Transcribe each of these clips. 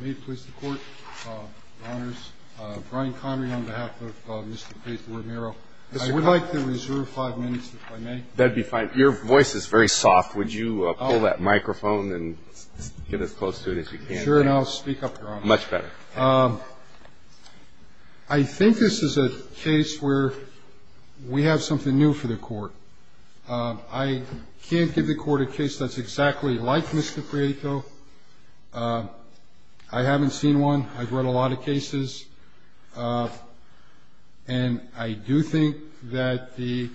May it please the Court, Your Honors. Brian Connery on behalf of Mr. Prieto-Romero. I would like to reserve five minutes, if I may. That'd be fine. Your voice is very soft. Would you pull that microphone and get as close to it as you can? Sure, and I'll speak up, Your Honor. Much better. I think this is a case where we have something new for the Court. I can't give the Court a case that's exactly like Mr. Prieto. I haven't seen one. I've read a lot of cases, and I do think that the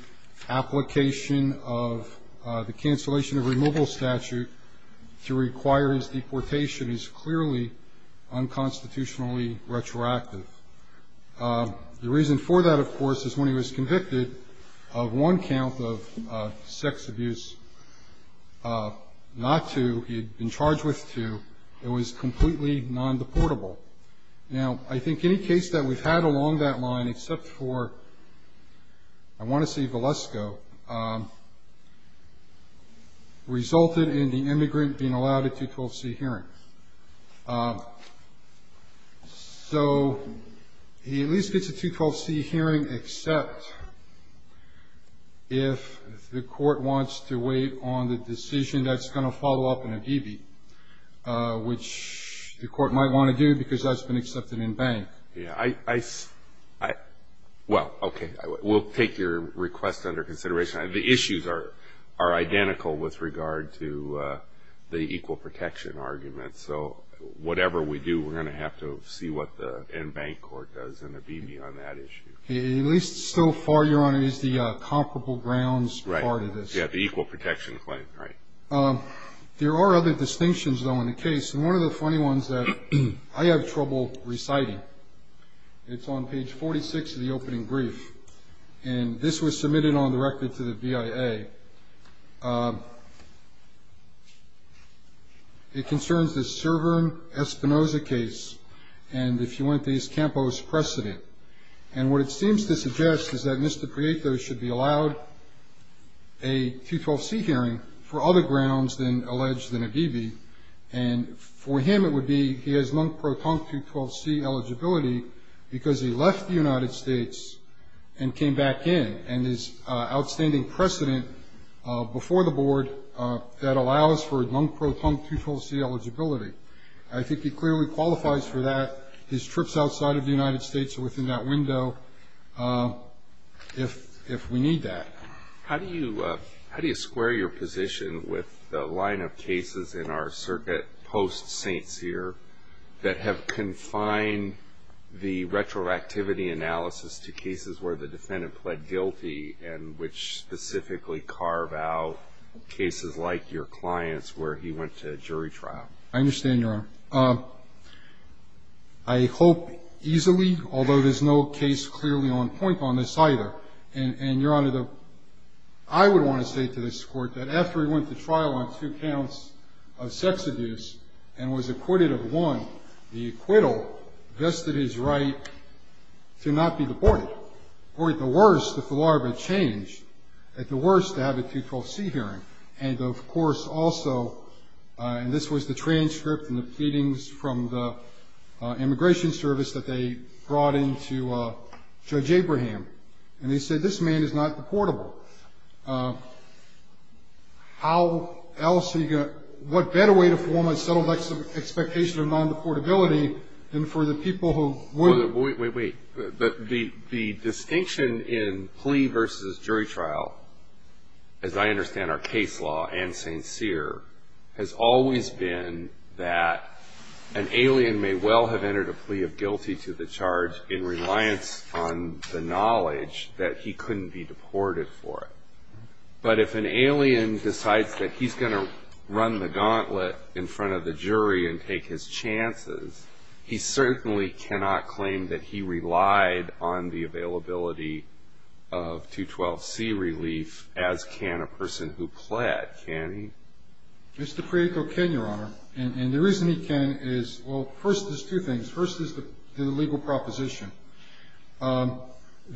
application of the cancellation of removal statute to require his deportation is clearly unconstitutionally retroactive. The reason for that, of course, is when he was convicted of one count of sex abuse, not two. He had been charged with two. It was completely non-deportable. Now, I think any case that we've had along that line, except for I want to see Valesko, resulted in the immigrant being allowed a 212c hearing. So he at least gets a 212c hearing, except if the Court wants to wait on the decision that's going to follow up in a DB, which the Court might want to do because that's been accepted in bank. Well, okay. We'll take your request under consideration. The issues are identical with regard to the equal protection argument. So whatever we do, we're going to have to see what the end bank court does in a DB on that issue. At least so far, Your Honor, it is the comparable grounds part of this. Yeah, the equal protection claim, right. There are other distinctions, though, in the case, and one of the funny ones that I have trouble reciting. It's on page 46 of the opening brief, and this was submitted on the record to the BIA. It concerns the Cervern-Espinoza case and the Fuentes-Campos precedent. And what it seems to suggest is that Mr. Prieto should be allowed a 212c hearing for other grounds than alleged in a DB. And for him, it would be he has non-proton 212c eligibility because he left the United States and came back in. And his outstanding precedent before the board that allows for non-proton 212c eligibility. I think he clearly qualifies for that. His trips outside of the United States are within that window if we need that. How do you square your position with the line of cases in our circuit post-St. Cyr that have confined the retroactivity analysis to cases where the defendant pled guilty and which specifically carve out cases like your client's where he went to jury trial? I understand, Your Honor. I hope easily, although there's no case clearly on point on this either. And, Your Honor, I would want to say to this court that after he went to trial on two counts of sex abuse and was acquitted of one, the acquittal vested his right to not be deported. Or at the worst, if the law were to change, at the worst, to have a 212c hearing. And, of course, also, and this was the transcript and the pleadings from the immigration service that they brought in to Judge Abraham, and he said, this man is not deportable. How else are you going to, what better way to form a settled expectation of non-deportability than for the people who would? Wait, wait, wait. The distinction in plea versus jury trial, as I understand our case law and St. Cyr, has always been that an alien may well have entered a plea of guilty to the charge in reliance on the knowledge that he couldn't be deported for it. But if an alien decides that he's going to run the gauntlet in front of the jury and take his chances, he certainly cannot claim that he relied on the availability of 212c relief, as can a person who pled. Can he? Mr. Prieto can, Your Honor. And the reason he can is, well, first, there's two things. First is the legal proposition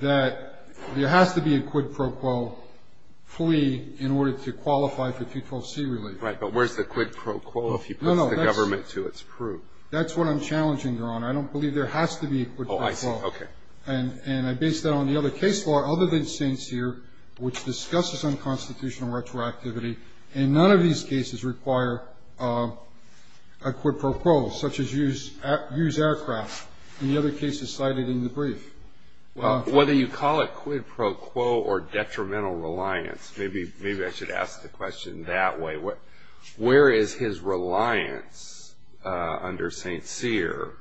that there has to be a quid pro quo plea in order to qualify for 212c relief. Right. But where's the quid pro quo if he puts the government to its proof? No, no. That's what I'm challenging, Your Honor. I don't believe there has to be a quid pro quo. Oh, I see. Okay. And I base that on the other case law other than St. Cyr, which discusses unconstitutional retroactivity. And none of these cases require a quid pro quo, such as use aircraft. And the other case is cited in the brief. Whether you call it quid pro quo or detrimental reliance, maybe I should ask the question that way. Where is his reliance under St. Cyr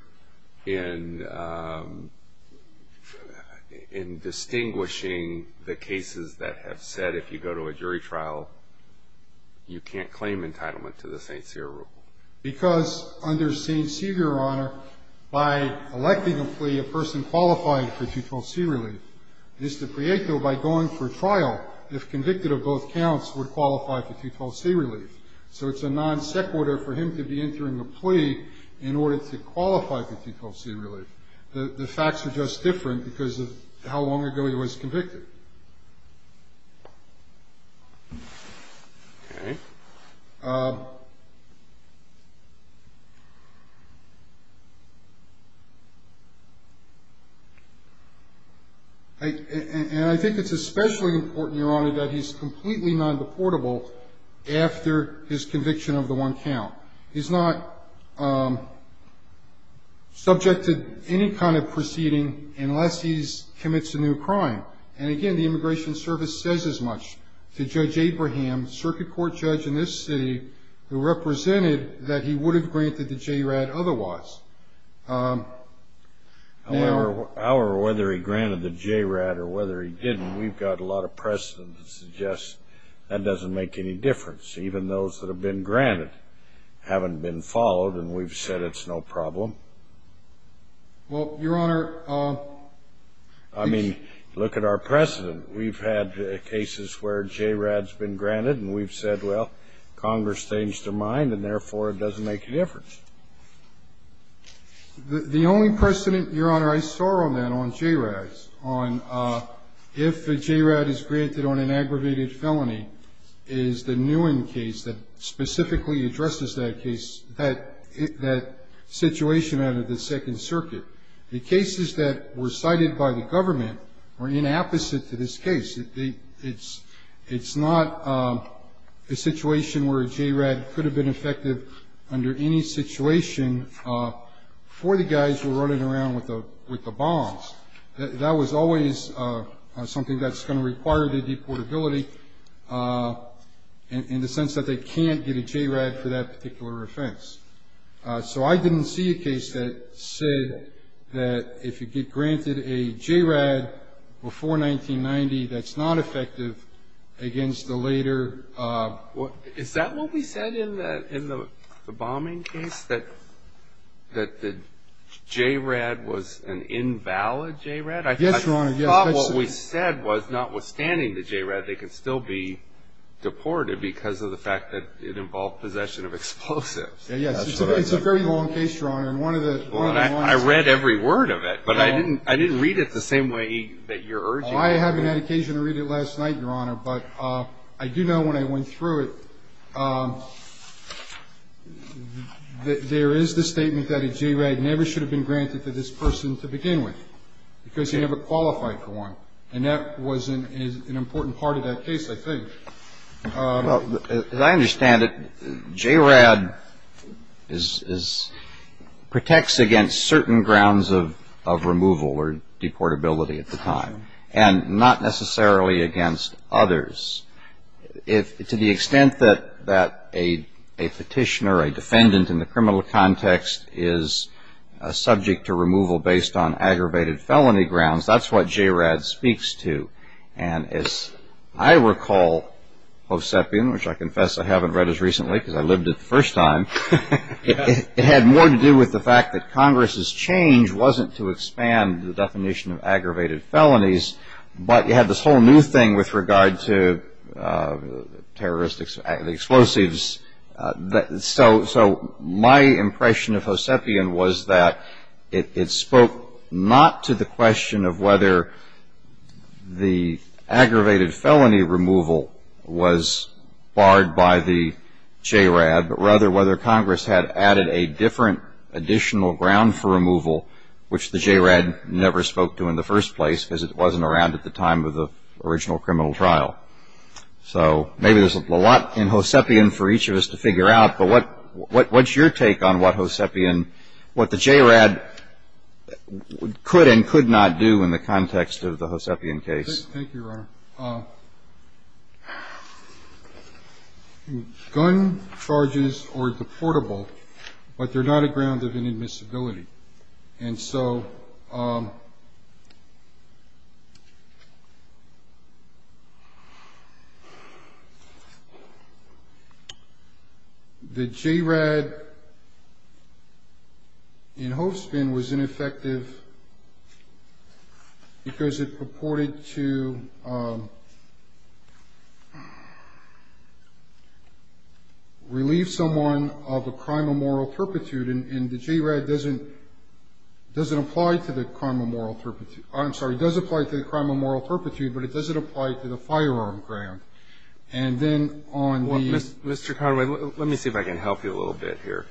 in distinguishing the cases that have said if you go to a jury trial, you can't claim entitlement to the St. Cyr rule? Because under St. Cyr, Your Honor, by electing a plea, a person qualified for 212c relief. Mr. Prieto, by going for trial, if convicted of both counts, would qualify for 212c relief. So it's a non sequitur for him to be entering a plea in order to qualify for 212c relief. The facts are just different because of how long ago he was convicted. Okay. And I think it's especially important, Your Honor, that he's completely non-deportable after his conviction of the one count. He's not subject to any kind of proceeding unless he commits a new crime. And, again, the Immigration Service says as much to Judge Abraham, circuit court judge in this city, who represented that he would have granted the JRAD otherwise. However, whether he granted the JRAD or whether he didn't, we've got a lot of precedent that suggests that doesn't make any difference, even those that have been granted haven't been followed, and we've said it's no problem. Well, Your Honor, I mean, look at our precedent. We've had cases where JRAD's been granted, and we've said, well, Congress changed their mind, and, therefore, it doesn't make a difference. The only precedent, Your Honor, I saw on that, on JRADs, on if a JRAD is granted on an aggravated felony is the Nguyen case that specifically addresses that case, that situation out of the Second Circuit. The cases that were cited by the government were inapposite to this case. It's not a situation where a JRAD could have been effective under any situation for the guys who were running around with the bombs. That was always something that's going to require the deportability in the sense that they can't get a JRAD for that particular offense. So I didn't see a case that said that if you get granted a JRAD before 1990, that's not effective against the later. Is that what we said in the bombing case, that the JRAD was an invalid JRAD? Yes, Your Honor, yes. I thought what we said was notwithstanding the JRAD, they could still be deported because of the fact that it involved possession of explosives. Yes, it's a very long case, Your Honor, and one of the points. I read every word of it, but I didn't read it the same way that you're urging me to read it. I was going to read it last night, Your Honor, but I do know when I went through it, that there is the statement that a JRAD never should have been granted to this person to begin with because he never qualified for one. And that was an important part of that case, I think. As I understand it, JRAD protects against certain grounds of removal or deportability at the time, and not necessarily against others. To the extent that a petitioner, a defendant in the criminal context, is subject to removal based on aggravated felony grounds, that's what JRAD speaks to. And as I recall, Hosepian, which I confess I haven't read as recently because I lived it the first time, it had more to do with the fact that Congress's change wasn't to expand the definition of aggravated felonies, but you had this whole new thing with regard to the explosives. So my impression of Hosepian was that it spoke not to the question of whether the aggravated felony removal was barred by the JRAD, but rather whether Congress had added a different additional ground for removal, which the JRAD never spoke to in the first place because it wasn't around at the time of the original criminal trial. So maybe there's a lot in Hosepian for each of us to figure out, but what's your take on what Hosepian, what the JRAD could and could not do in the context of the Hosepian case? Thank you, Your Honor. Gun charges or deportable, but they're not a ground of inadmissibility. And so the JRAD in Hosepian was ineffective because it purported to relieve someone of a crime of moral turpitude, and the JRAD doesn't apply to the crime of moral turpitude. I'm sorry. It does apply to the crime of moral turpitude, but it doesn't apply to the firearm ground. And then on the ---- Mr. Conway, let me see if I can help you a little bit here.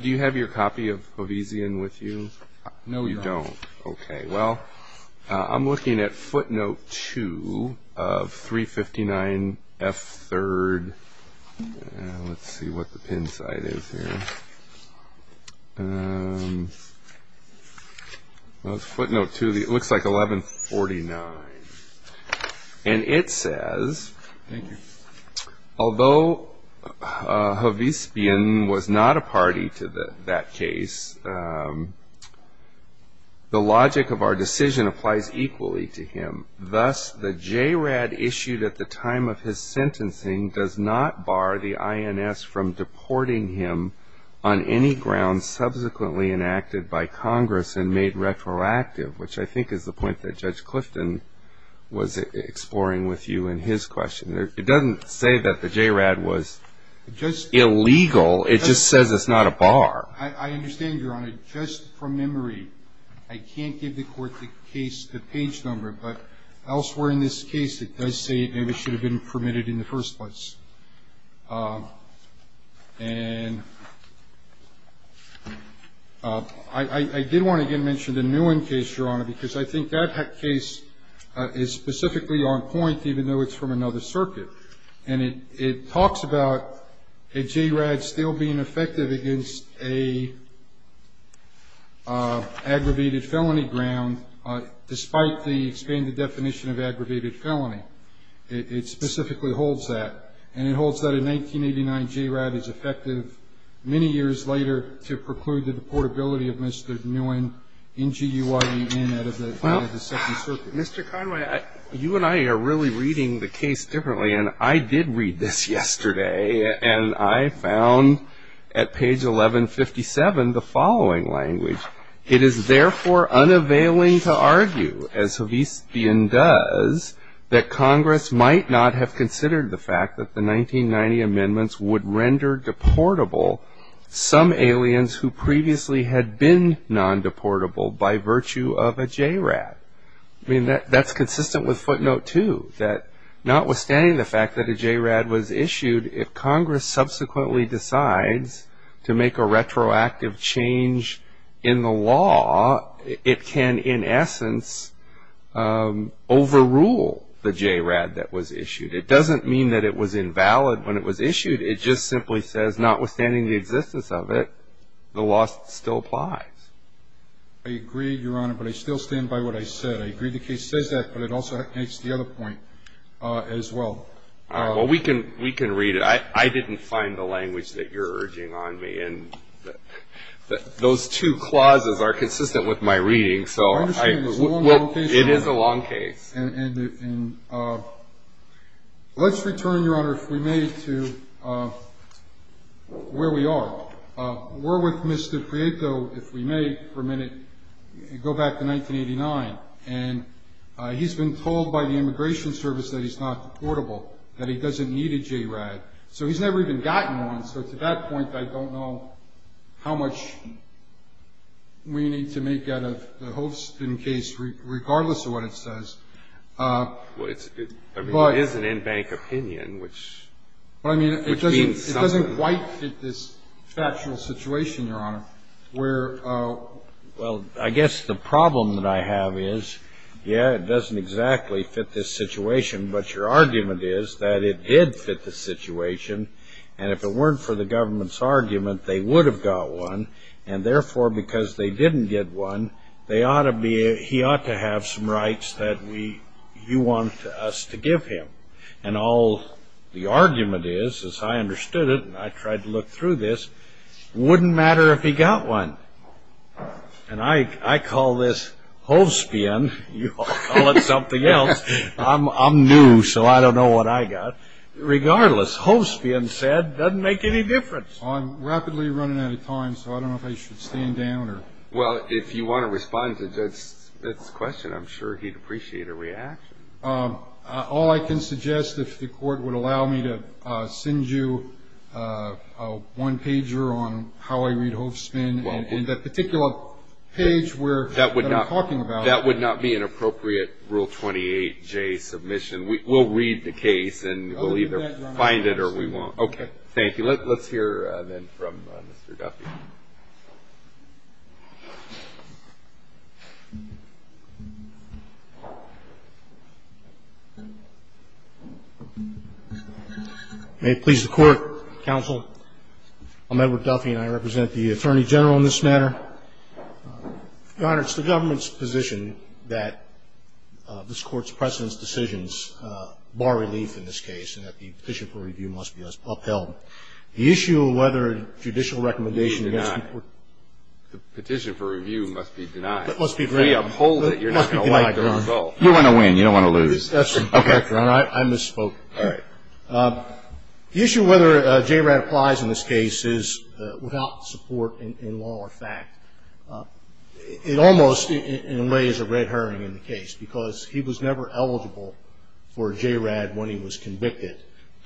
Do you have your copy of Hosepian with you? No, Your Honor. You don't. Okay. Well, I'm looking at footnote 2 of 359F3rd. Let's see what the pin side is here. Footnote 2, it looks like 1149. And it says, Thank you. Although Hosepian was not a party to that case, the logic of our decision applies equally to him. Thus, the JRAD issued at the time of his sentencing does not bar the INS from deporting him on any ground subsequently enacted by Congress and made retroactive, which I think is the point that Judge Clifton was exploring with you in his question. It doesn't say that the JRAD was illegal. It just says it's not a bar. I understand, Your Honor. But just from memory, I can't give the court the case, the page number. But elsewhere in this case, it does say it maybe should have been permitted in the first place. And I did want to again mention the Nguyen case, Your Honor, because I think that case is specifically on point, even though it's from another circuit. And it talks about a JRAD still being effective against an aggravated felony ground, despite the expanded definition of aggravated felony. It specifically holds that. And it holds that a 1989 JRAD is effective many years later to preclude the deportability of Mr. Nguyen, N-G-U-Y-E-N, out of the second circuit. Mr. Conway, you and I are really reading the case differently. And I did read this yesterday. And I found at page 1157 the following language. It is therefore unavailing to argue, as Havisbian does, that Congress might not have considered the fact that the 1990 amendments would render deportable some aliens who previously had been non-deportable by virtue of a JRAD. I mean, that's consistent with footnote two, that notwithstanding the fact that a JRAD was issued, if Congress subsequently decides to make a retroactive change in the law, it can in essence overrule the JRAD that was issued. It doesn't mean that it was invalid when it was issued. It just simply says, notwithstanding the existence of it, the law still applies. I agree, Your Honor, but I still stand by what I said. I agree the case says that, but it also makes the other point as well. All right. Well, we can read it. I didn't find the language that you're urging on me. And those two clauses are consistent with my reading. So it is a long case. And let's return, Your Honor, if we may, to where we are. We're with Mr. Prieto, if we may for a minute, go back to 1989. And he's been told by the Immigration Service that he's not deportable, that he doesn't need a JRAD. So he's never even gotten one. So to that point, I don't know how much we need to make out of the Holston case, regardless of what it says. I mean, it is an in-bank opinion, which means something. It doesn't quite fit this factual situation, Your Honor, where ‑‑ Well, I guess the problem that I have is, yeah, it doesn't exactly fit this situation, but your argument is that it did fit the situation, and if it weren't for the government's argument, they would have got one, and therefore, because they didn't get one, they ought to be ‑‑ he ought to have some rights that we ‑‑ you want us to give him. And all the argument is, as I understood it, and I tried to look through this, wouldn't matter if he got one. And I call this Hovspian. You all call it something else. I'm new, so I don't know what I got. Regardless, Hovspian said, doesn't make any difference. Well, I'm rapidly running out of time, so I don't know if I should stand down or ‑‑ Well, if you want to respond to the judge's question, I'm sure he'd appreciate a reaction. All I can suggest, if the court would allow me to send you a one‑pager on how I read Hovspian, and that particular page that I'm talking about. That would not be an appropriate Rule 28J submission. We'll read the case, and we'll either find it or we won't. Okay. Thank you. Let's hear then from Mr. Duffy. May it please the Court, Counsel, I'm Edward Duffy, and I represent the Attorney General in this matter. Your Honor, it's the government's position that this Court's precedence decisions, bar relief in this case, and that the petition for review must be upheld. The issue of whether a judicial recommendation against the court ‑‑ The petition for review must be denied. It must be denied. We uphold it. You're not going to like the result. You don't want to win. You don't want to lose. Okay. Your Honor, I misspoke. All right. The issue of whether a JRAD applies in this case is without support in law or fact. It almost, in a way, is a red herring in the case because he was never eligible for a JRAD when he was convicted.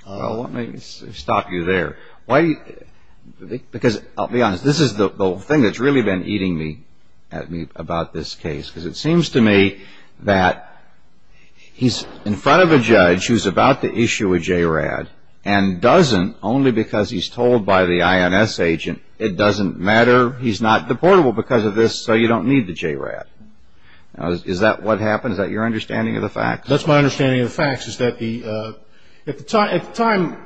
Well, let me stop you there. Because I'll be honest, this is the thing that's really been eating me about this case because it seems to me that he's in front of a judge who's about to issue a JRAD and doesn't only because he's told by the INS agent it doesn't matter, he's not deportable because of this, so you don't need the JRAD. Is that what happened? Is that your understanding of the facts? That's my understanding of the facts is that at the time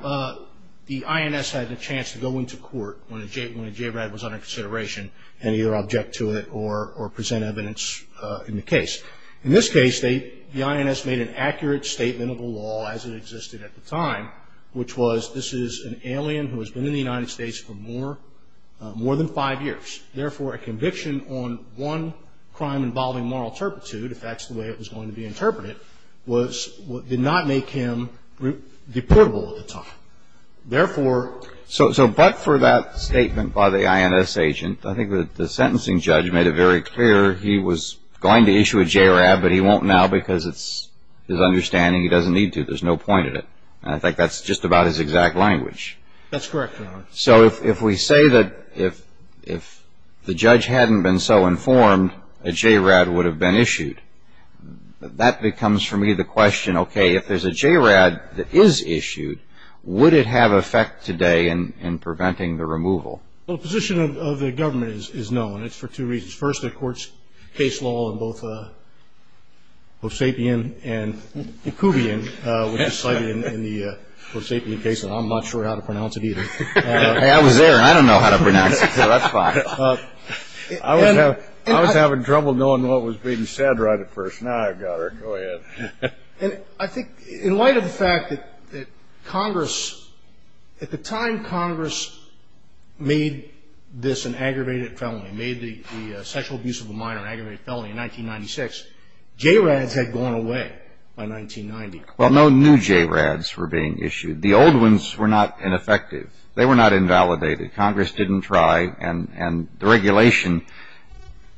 the INS had a chance to go into court when a JRAD was under consideration and either object to it or present evidence in the case. In this case, the INS made an accurate statement of the law as it existed at the time, which was this is an alien who has been in the United States for more than five years. Therefore, a conviction on one crime involving moral turpitude, if that's the way it was going to be interpreted, did not make him deportable at the time. Therefore, so but for that statement by the INS agent, I think that the sentencing judge made it very clear he was going to issue a JRAD, but he won't now because it's his understanding he doesn't need to. There's no point in it. And I think that's just about his exact language. That's correct, Your Honor. So if we say that if the judge hadn't been so informed, a JRAD would have been issued, that becomes for me the question, okay, if there's a JRAD that is issued, would it have effect today in preventing the removal? Well, the position of the government is no, and it's for two reasons. First, the court's case law on both Hoseapian and Koubian, which is cited in the Hoseapian case, and I'm not sure how to pronounce it either. I was there, and I don't know how to pronounce it, so that's fine. I was having trouble knowing what was being said right at first. Now I've got it. Go ahead. I think in light of the fact that Congress, at the time Congress made this an aggravated felony, made the sexual abuse of a minor an aggravated felony in 1996, JRADs had gone away by 1990. Well, no new JRADs were being issued. The old ones were not ineffective. They were not invalidated. Congress didn't try, and the regulation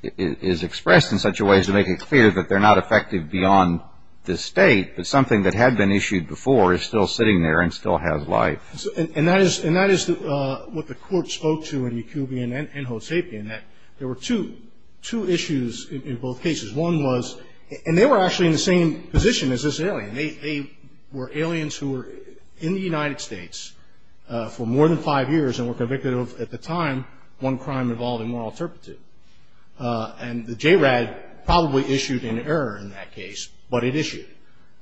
is expressed in such a way as to make it clear that they're not effective beyond this state, but something that had been issued before is still sitting there and still has life. And that is what the court spoke to in Koubian and Hoseapian, that there were two issues in both cases. One was, and they were actually in the same position as this alien. They were aliens who were in the United States for more than five years and were convicted of, at the time, one crime involving moral turpitude. And the JRAD probably issued an error in that case, but it issued.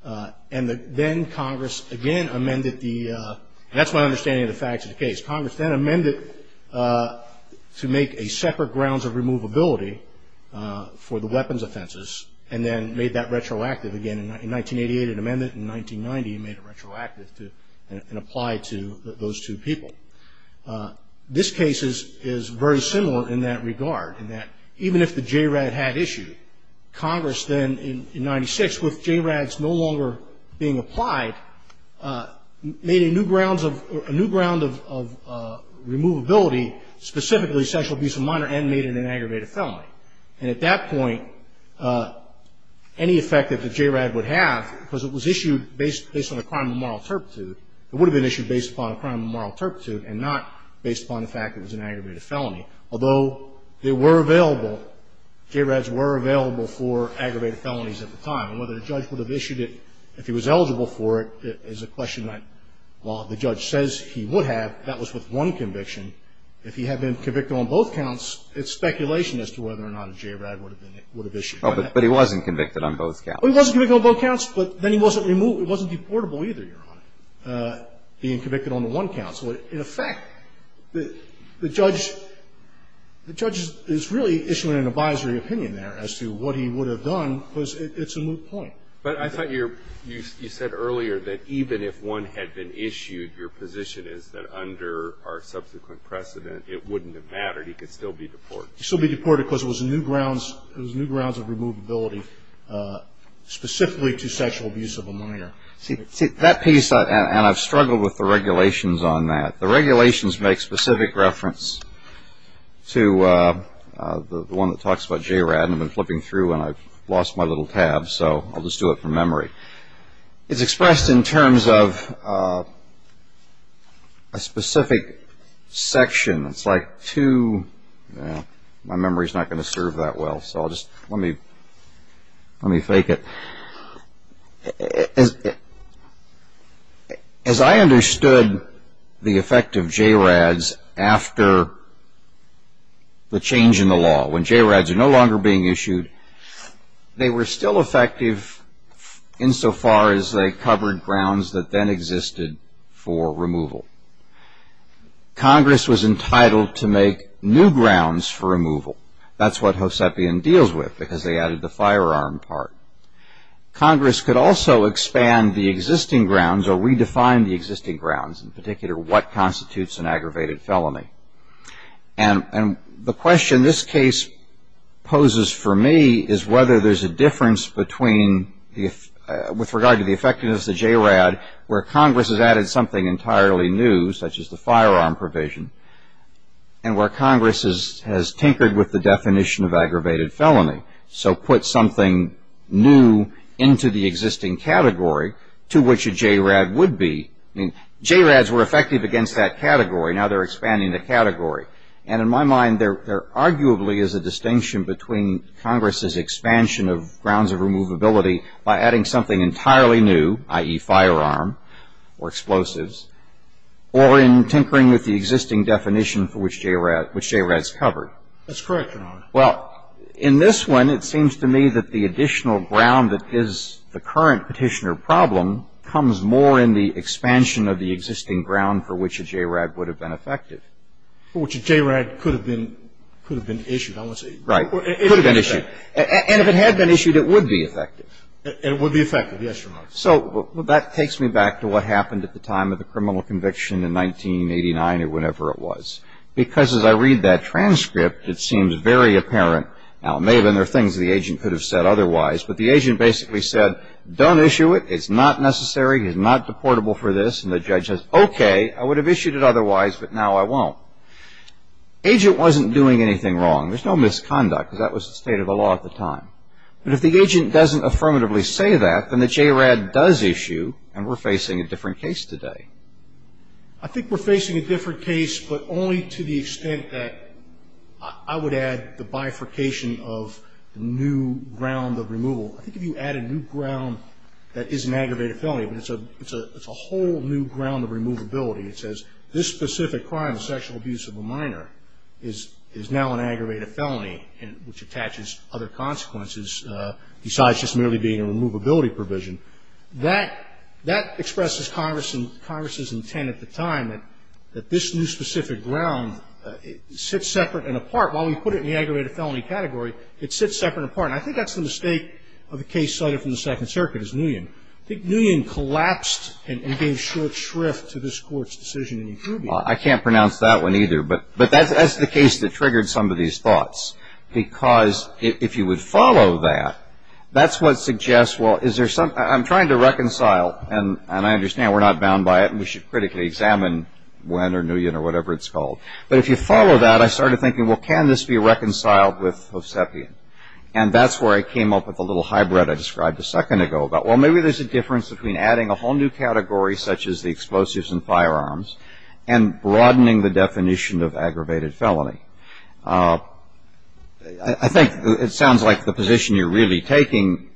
And then Congress again amended the – that's my understanding of the facts of the case. Congress then amended to make a separate grounds of removability for the weapons offenses and then made that retroactive again in 1988. It amended it in 1990 and made it retroactive and applied to those two people. This case is very similar in that regard, in that even if the JRAD had issued, Congress then in 1996, with JRADs no longer being applied, made a new grounds of – a new ground of removability, specifically sexual abuse of minor and made it an aggravated felony. And at that point, any effect that the JRAD would have, because it was issued based on a crime of moral turpitude, it would have been issued based upon a crime of moral turpitude and not based upon the fact it was an aggravated felony. Although they were available, JRADs were available for aggravated felonies at the time. And whether the judge would have issued it if he was eligible for it is a question that, while the judge says he would have, that was with one conviction. If he had been convicted on both counts, it's speculation as to whether or not a JRAD would have issued it. But he wasn't convicted on both counts. He wasn't convicted on both counts, but then he wasn't deportable either, Your Honor, being convicted on the one counts. In effect, the judge is really issuing an advisory opinion there as to what he would have done because it's a moot point. But I thought you said earlier that even if one had been issued, your position is that under our subsequent precedent, it wouldn't have mattered. He could still be deported. He could still be deported because it was new grounds of removability, specifically to sexual abuse of a minor. See, that piece, and I've struggled with the regulations on that. The regulations make specific reference to the one that talks about JRAD. I've been flipping through and I've lost my little tab, so I'll just do it from memory. It's expressed in terms of a specific section. It's like two, my memory's not going to serve that well, so I'll just, let me fake it. As I understood the effect of JRADs after the change in the law, when JRADs are no longer being issued, they were still effective insofar as they covered grounds that then existed for removal. Congress was entitled to make new grounds for removal. That's what Hosepian deals with because they added the firearm part. Congress could also expand the existing grounds or redefine the existing grounds, in particular what constitutes an aggravated felony. And the question this case poses for me is whether there's a difference between, with regard to the effectiveness of JRAD, where Congress has added something entirely new, such as the firearm provision, and where Congress has tinkered with the definition of aggravated felony, so put something new into the existing category to which a JRAD would be. JRADs were effective against that category. Now they're expanding the category. And in my mind, there arguably is a distinction between Congress's expansion of grounds of removability by adding something entirely new, i.e., firearm or explosives, or in tinkering with the existing definition for which JRADs covered. That's correct, Your Honor. Well, in this one, it seems to me that the additional ground that is the current petitioner problem comes more in the expansion of the existing ground for which a JRAD would have been effective. Well, which a JRAD could have been issued, I want to say. Right. Could have been issued. And if it had been issued, it would be effective. It would be effective, yes, Your Honor. So that takes me back to what happened at the time of the criminal conviction in 1989 or whenever it was. Because as I read that transcript, it seems very apparent. Now, it may have been there are things the agent could have said otherwise. But the agent basically said, don't issue it. It's not necessary. It is not deportable for this. And the judge says, okay, I would have issued it otherwise, but now I won't. Agent wasn't doing anything wrong. There's no misconduct, because that was the state of the law at the time. But if the agent doesn't affirmatively say that, then the JRAD does issue, and we're facing a different case today. I think we're facing a different case, but only to the extent that I would add the bifurcation of the new ground of removal. I think if you add a new ground that is an aggravated felony, but it's a whole new ground of removability. It says, this specific crime of sexual abuse of a minor is now an aggravated felony, which attaches other consequences besides just merely being a removability provision. That expresses Congress's intent at the time that this new specific ground sits separate and apart. While we put it in the aggravated felony category, it sits separate and apart. And I think that's the mistake of the case cited from the Second Circuit, is Nguyen. I think Nguyen collapsed and gave short shrift to this Court's decision. I can't pronounce that one, either. But that's the case that triggered some of these thoughts, because if you would follow that, that's what suggests, well, is there some ‑‑ I'm trying to reconcile, and I understand we're not bound by it, and we should critically examine Nguyen or whatever it's called. But if you follow that, I started thinking, well, can this be reconciled with Hosepian? And that's where I came up with the little hybrid I described a second ago about, well, maybe there's a difference between adding a whole new category such as the explosives and firearms and broadening the definition of aggravated felony. I think it sounds like the position you're really taking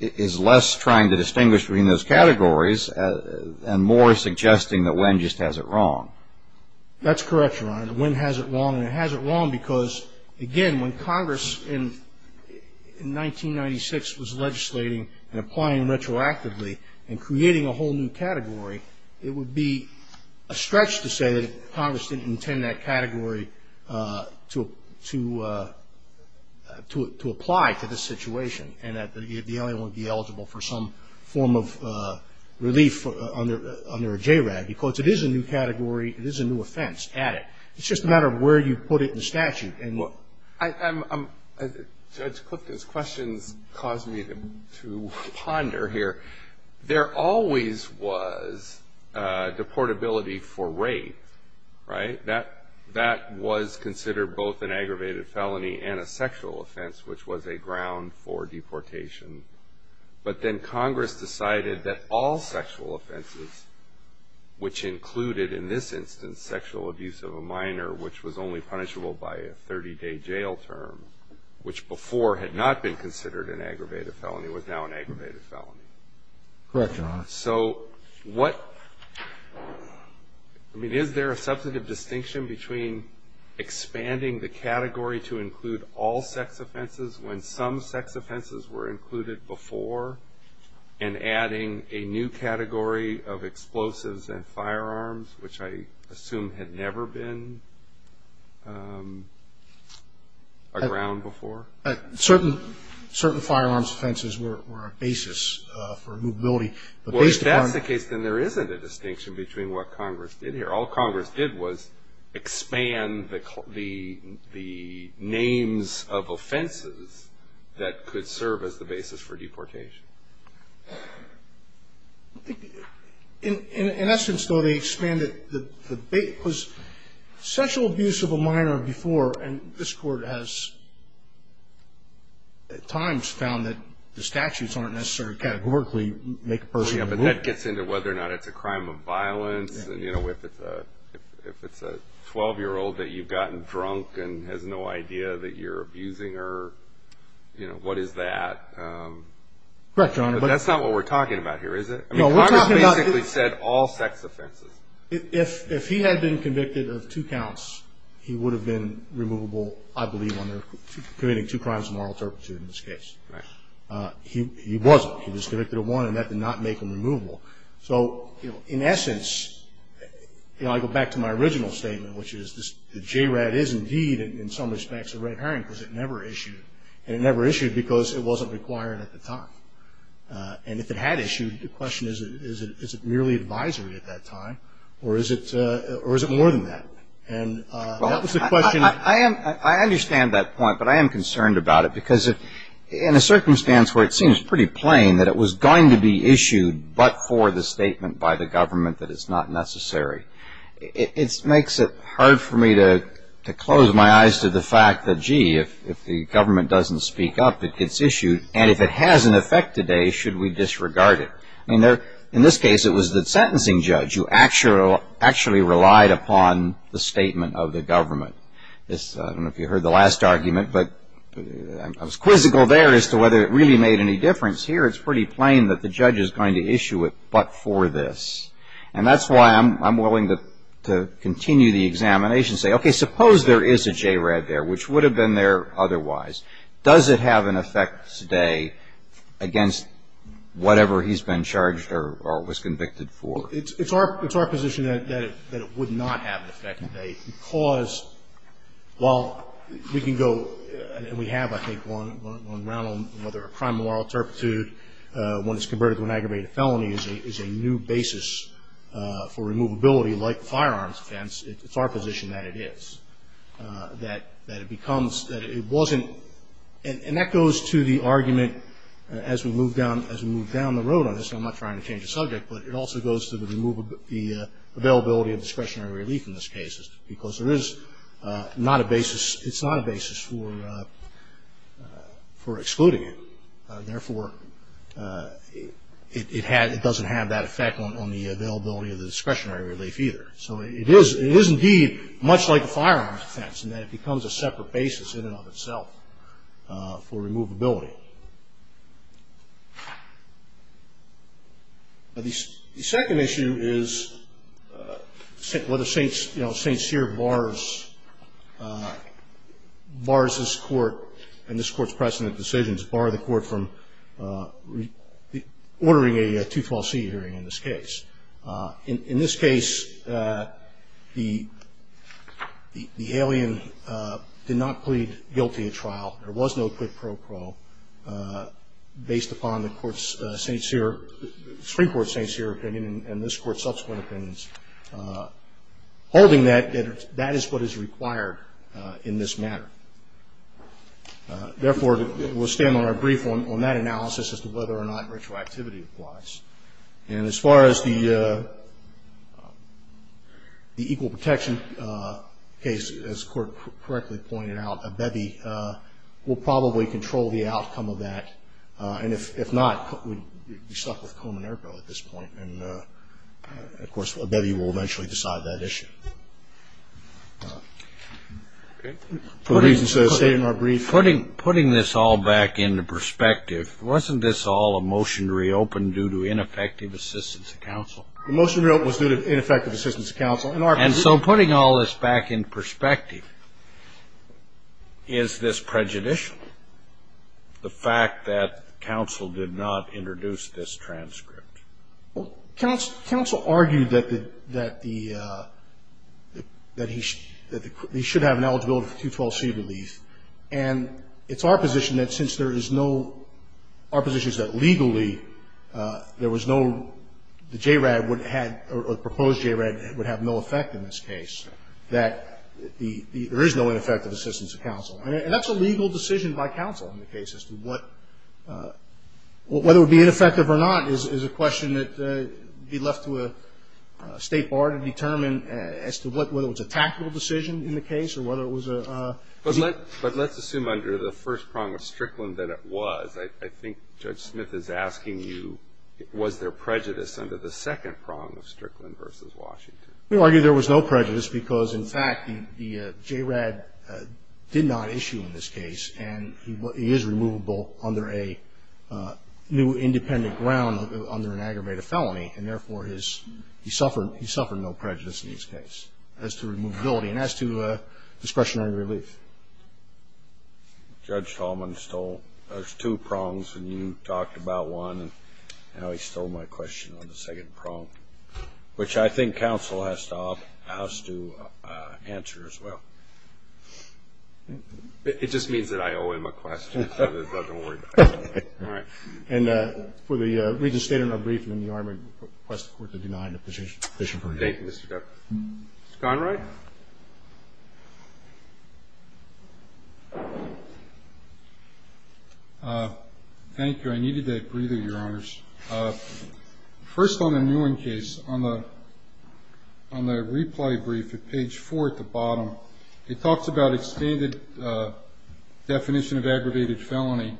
is less trying to distinguish between those categories and more suggesting that Nguyen just has it wrong. That's correct, Your Honor. Nguyen has it wrong, and it has it wrong because, again, when Congress in 1996 was legislating and applying retroactively and creating a whole new category, it would be a stretch to say that Congress didn't intend that category to apply to this situation and that the alien would be eligible for some form of relief under a JRAD, because it is a new category, it is a new offense added. It's just a matter of where you put it in the statute. Judge Clifton's questions cause me to ponder here. There always was deportability for rape, right? That was considered both an aggravated felony and a sexual offense, which was a ground for deportation. But then Congress decided that all sexual offenses, which included, in this instance, sexual abuse of a minor, which was only punishable by a 30-day jail term, which before had not been considered an aggravated felony, was now an aggravated felony. Correct, Your Honor. So what – I mean, is there a substantive distinction between expanding the category to include all sex offenses when some sex offenses were included before and adding a new category of explosives and firearms, which I assume had never been a ground before? Certain firearms offenses were a basis for movability. Well, if that's the case, then there isn't a distinction between what Congress did here. All Congress did was expand the names of offenses that could serve as the basis for deportation. In essence, though, they expanded the – because sexual abuse of a minor before, and this Court has at times found that the statutes aren't necessarily categorically make a person move. Yeah, but that gets into whether or not it's a crime of violence. You know, if it's a 12-year-old that you've gotten drunk and has no idea that you're abusing her, you know, what is that? Correct, Your Honor. But that's not what we're talking about here, is it? No, we're talking about – Congress basically said all sex offenses. If he had been convicted of two counts, he would have been removable, I believe, on committing two crimes of moral turpitude in this case. Right. He wasn't. He was convicted of one, and that did not make him removable. So, you know, in essence, you know, I go back to my original statement, which is the JRAD is indeed, in some respects, a red herring because it never issued. And it never issued because it wasn't required at the time. And if it had issued, the question is, is it merely advisory at that time, or is it more than that? And that was the question. I understand that point, but I am concerned about it. Because in a circumstance where it seems pretty plain that it was going to be issued but for the statement by the government that it's not necessary, it makes it hard for me to close my eyes to the fact that, gee, if the government doesn't speak up, it gets issued. And if it has an effect today, should we disregard it? In this case, it was the sentencing judge who actually relied upon the statement of the government. I don't know if you heard the last argument, but I was quizzical there as to whether it really made any difference. Here, it's pretty plain that the judge is going to issue it but for this. And that's why I'm willing to continue the examination and say, okay, suppose there is a JRAD there, which would have been there otherwise. Does it have an effect today against whatever he's been charged or was convicted for? It's our position that it would not have an effect today because while we can go and we have, I think, one round on whether a crime of moral turpitude, when it's converted to an aggravated felony, is a new basis for removability like firearms offense. It's our position that it is. That it becomes, that it wasn't, and that goes to the argument as we move down the road on this, and I'm not trying to change the subject, but it also goes to the availability of discretionary relief in this case because there is not a basis, it's not a basis for excluding it. Therefore, it doesn't have that effect on the availability of the discretionary relief either. So it is, indeed, much like a firearms offense in that it becomes a separate basis in and of itself for removability. The second issue is whether St. Cyr bars this court and this court's precedent decisions bar the court from ordering a 212c hearing in this case. In this case, the alien did not plead guilty at trial. There was no quid pro quo based upon the Supreme Court's St. Cyr opinion and this court's subsequent opinions. Holding that, that is what is required in this matter. Therefore, we'll stand on our brief on that analysis as to whether or not retroactivity applies. And as far as the equal protection case, as the court correctly pointed out, Abebe will probably control the outcome of that. And if not, we'd be stuck with Komen Erko at this point. And, of course, Abebe will eventually decide that issue. Putting this all back into perspective, wasn't this all a motion to reopen due to ineffective assistance of counsel? The motion to reopen was due to ineffective assistance of counsel. And so putting all this back in perspective, is this prejudicial, the fact that counsel did not introduce this transcript? Counsel argued that he should have an eligibility for 212c relief. And it's our position that since there is no, our position is that legally there was no, the JRAD would have, or the proposed JRAD would have no effect in this case, that there is no ineffective assistance of counsel. And that's a legal decision by counsel in the case as to what, whether it would be ineffective or not is a question that would be left to a State bar to determine as to what, whether it was a tactical decision in the case or whether it was a. But let's assume under the first prong of Strickland that it was. I think Judge Smith is asking you, was there prejudice under the second prong of Strickland versus Washington? We argue there was no prejudice because, in fact, the JRAD did not issue in this case, and he is removable under a new independent ground under an aggravated felony, and therefore he suffered no prejudice in this case as to removability and as to discretionary relief. Judge Tallman stole, there's two prongs, and you talked about one. Now he stole my question on the second prong, which I think counsel has to answer as well. It just means that I owe him a question. It doesn't worry me. All right. And for the reason stated in our briefing, the Army requested the court to deny the position. Thank you, Mr. Decker. Mr. Conrad? Thank you. I needed that breather, Your Honors. First on the Newen case, on the replay brief at page 4 at the bottom, it talks about expanded definition of aggravated felony.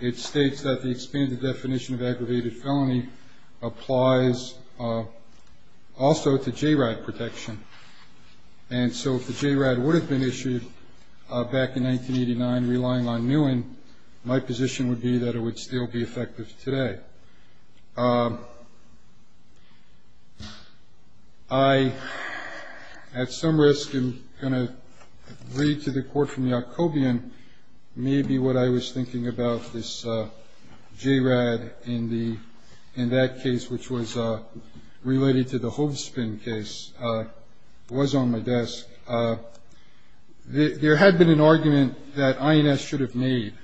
It states that the expanded definition of aggravated felony applies also to JRAD protection. And so if the JRAD would have been issued back in 1989 relying on Newen, my position would be that it would still be effective today. I, at some risk, am going to read to the court from Yacobian maybe what I was on my desk. There had been an argument that INS should have made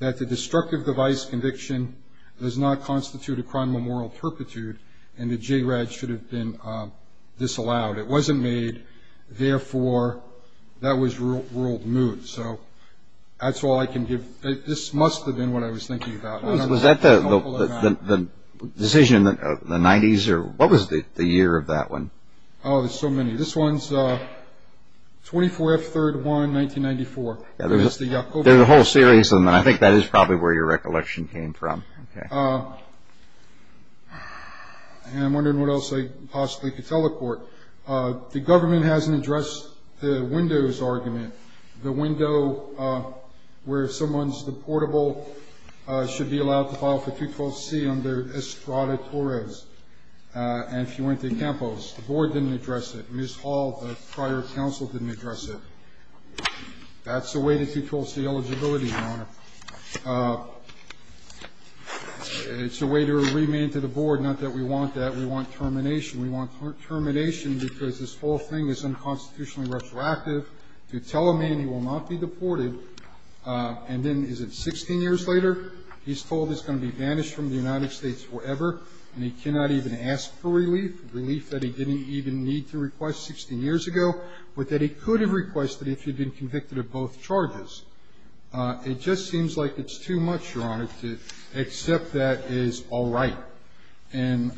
that the destructive device conviction does not constitute a crime of moral perpetuity and the JRAD should have been disallowed. It wasn't made. Therefore, that was ruled moot. So that's all I can give. This must have been what I was thinking about. Was that the decision of the 90s or what was the year of that one? Oh, there's so many. This one's 24th, 3rd, 1, 1994. There's a whole series of them. I think that is probably where your recollection came from. Okay. And I'm wondering what else I possibly could tell the court. The government hasn't addressed the windows argument, the window where someone's deportable should be allowed to file for 212C under Estrada Torres and Fuente Campos. The board didn't address it. Ms. Hall, the prior counsel, didn't address it. That's the way to 212C eligibility, Your Honor. It's a way to remand to the board, not that we want that. We want termination. We want termination because this whole thing is unconstitutionally retroactive to tell a man he will not be deported, and then is it 16 years later, he's told he's going to be banished from the United States forever, and he cannot even ask for relief, relief that he didn't even need to request 16 years ago, but that he could have requested if he'd been convicted of both charges. It just seems like it's too much, Your Honor, to accept that as all right. And,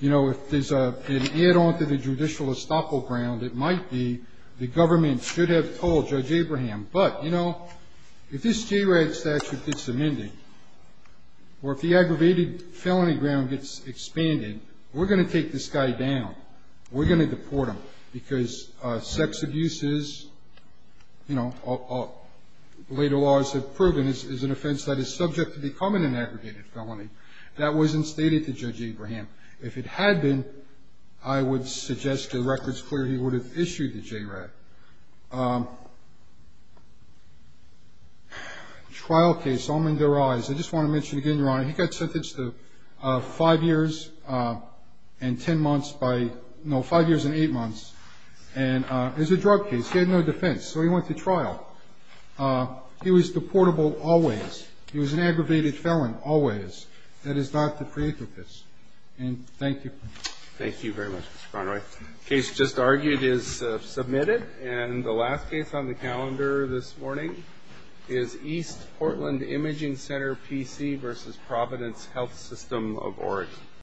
you know, if there's an add-on to the judicial estoppel ground, it might be the government should have told Judge Abraham, but, you know, if this JRAD statute gets amended or if the aggravated felony ground gets expanded, we're going to take this guy down. We're going to deport him because sex abuses, you know, later laws have proven is an offense that is subject to becoming an aggregated felony. That wasn't stated to Judge Abraham. If it had been, I would suggest to the record's clear he would have issued the JRAD. Trial case, almond to their eyes. I just want to mention again, Your Honor, he got sentenced to five years and 10 months by, no, five years and eight months, and it was a drug case. He had no defense, so he went to trial. He was deportable always. He was an aggravated felon always. That is not to create with this, and thank you. Thank you very much, Mr. Conroy. The case just argued is submitted, and the last case on the calendar this morning is East Portland Imaging Center PC v. Providence Health System of Oregon.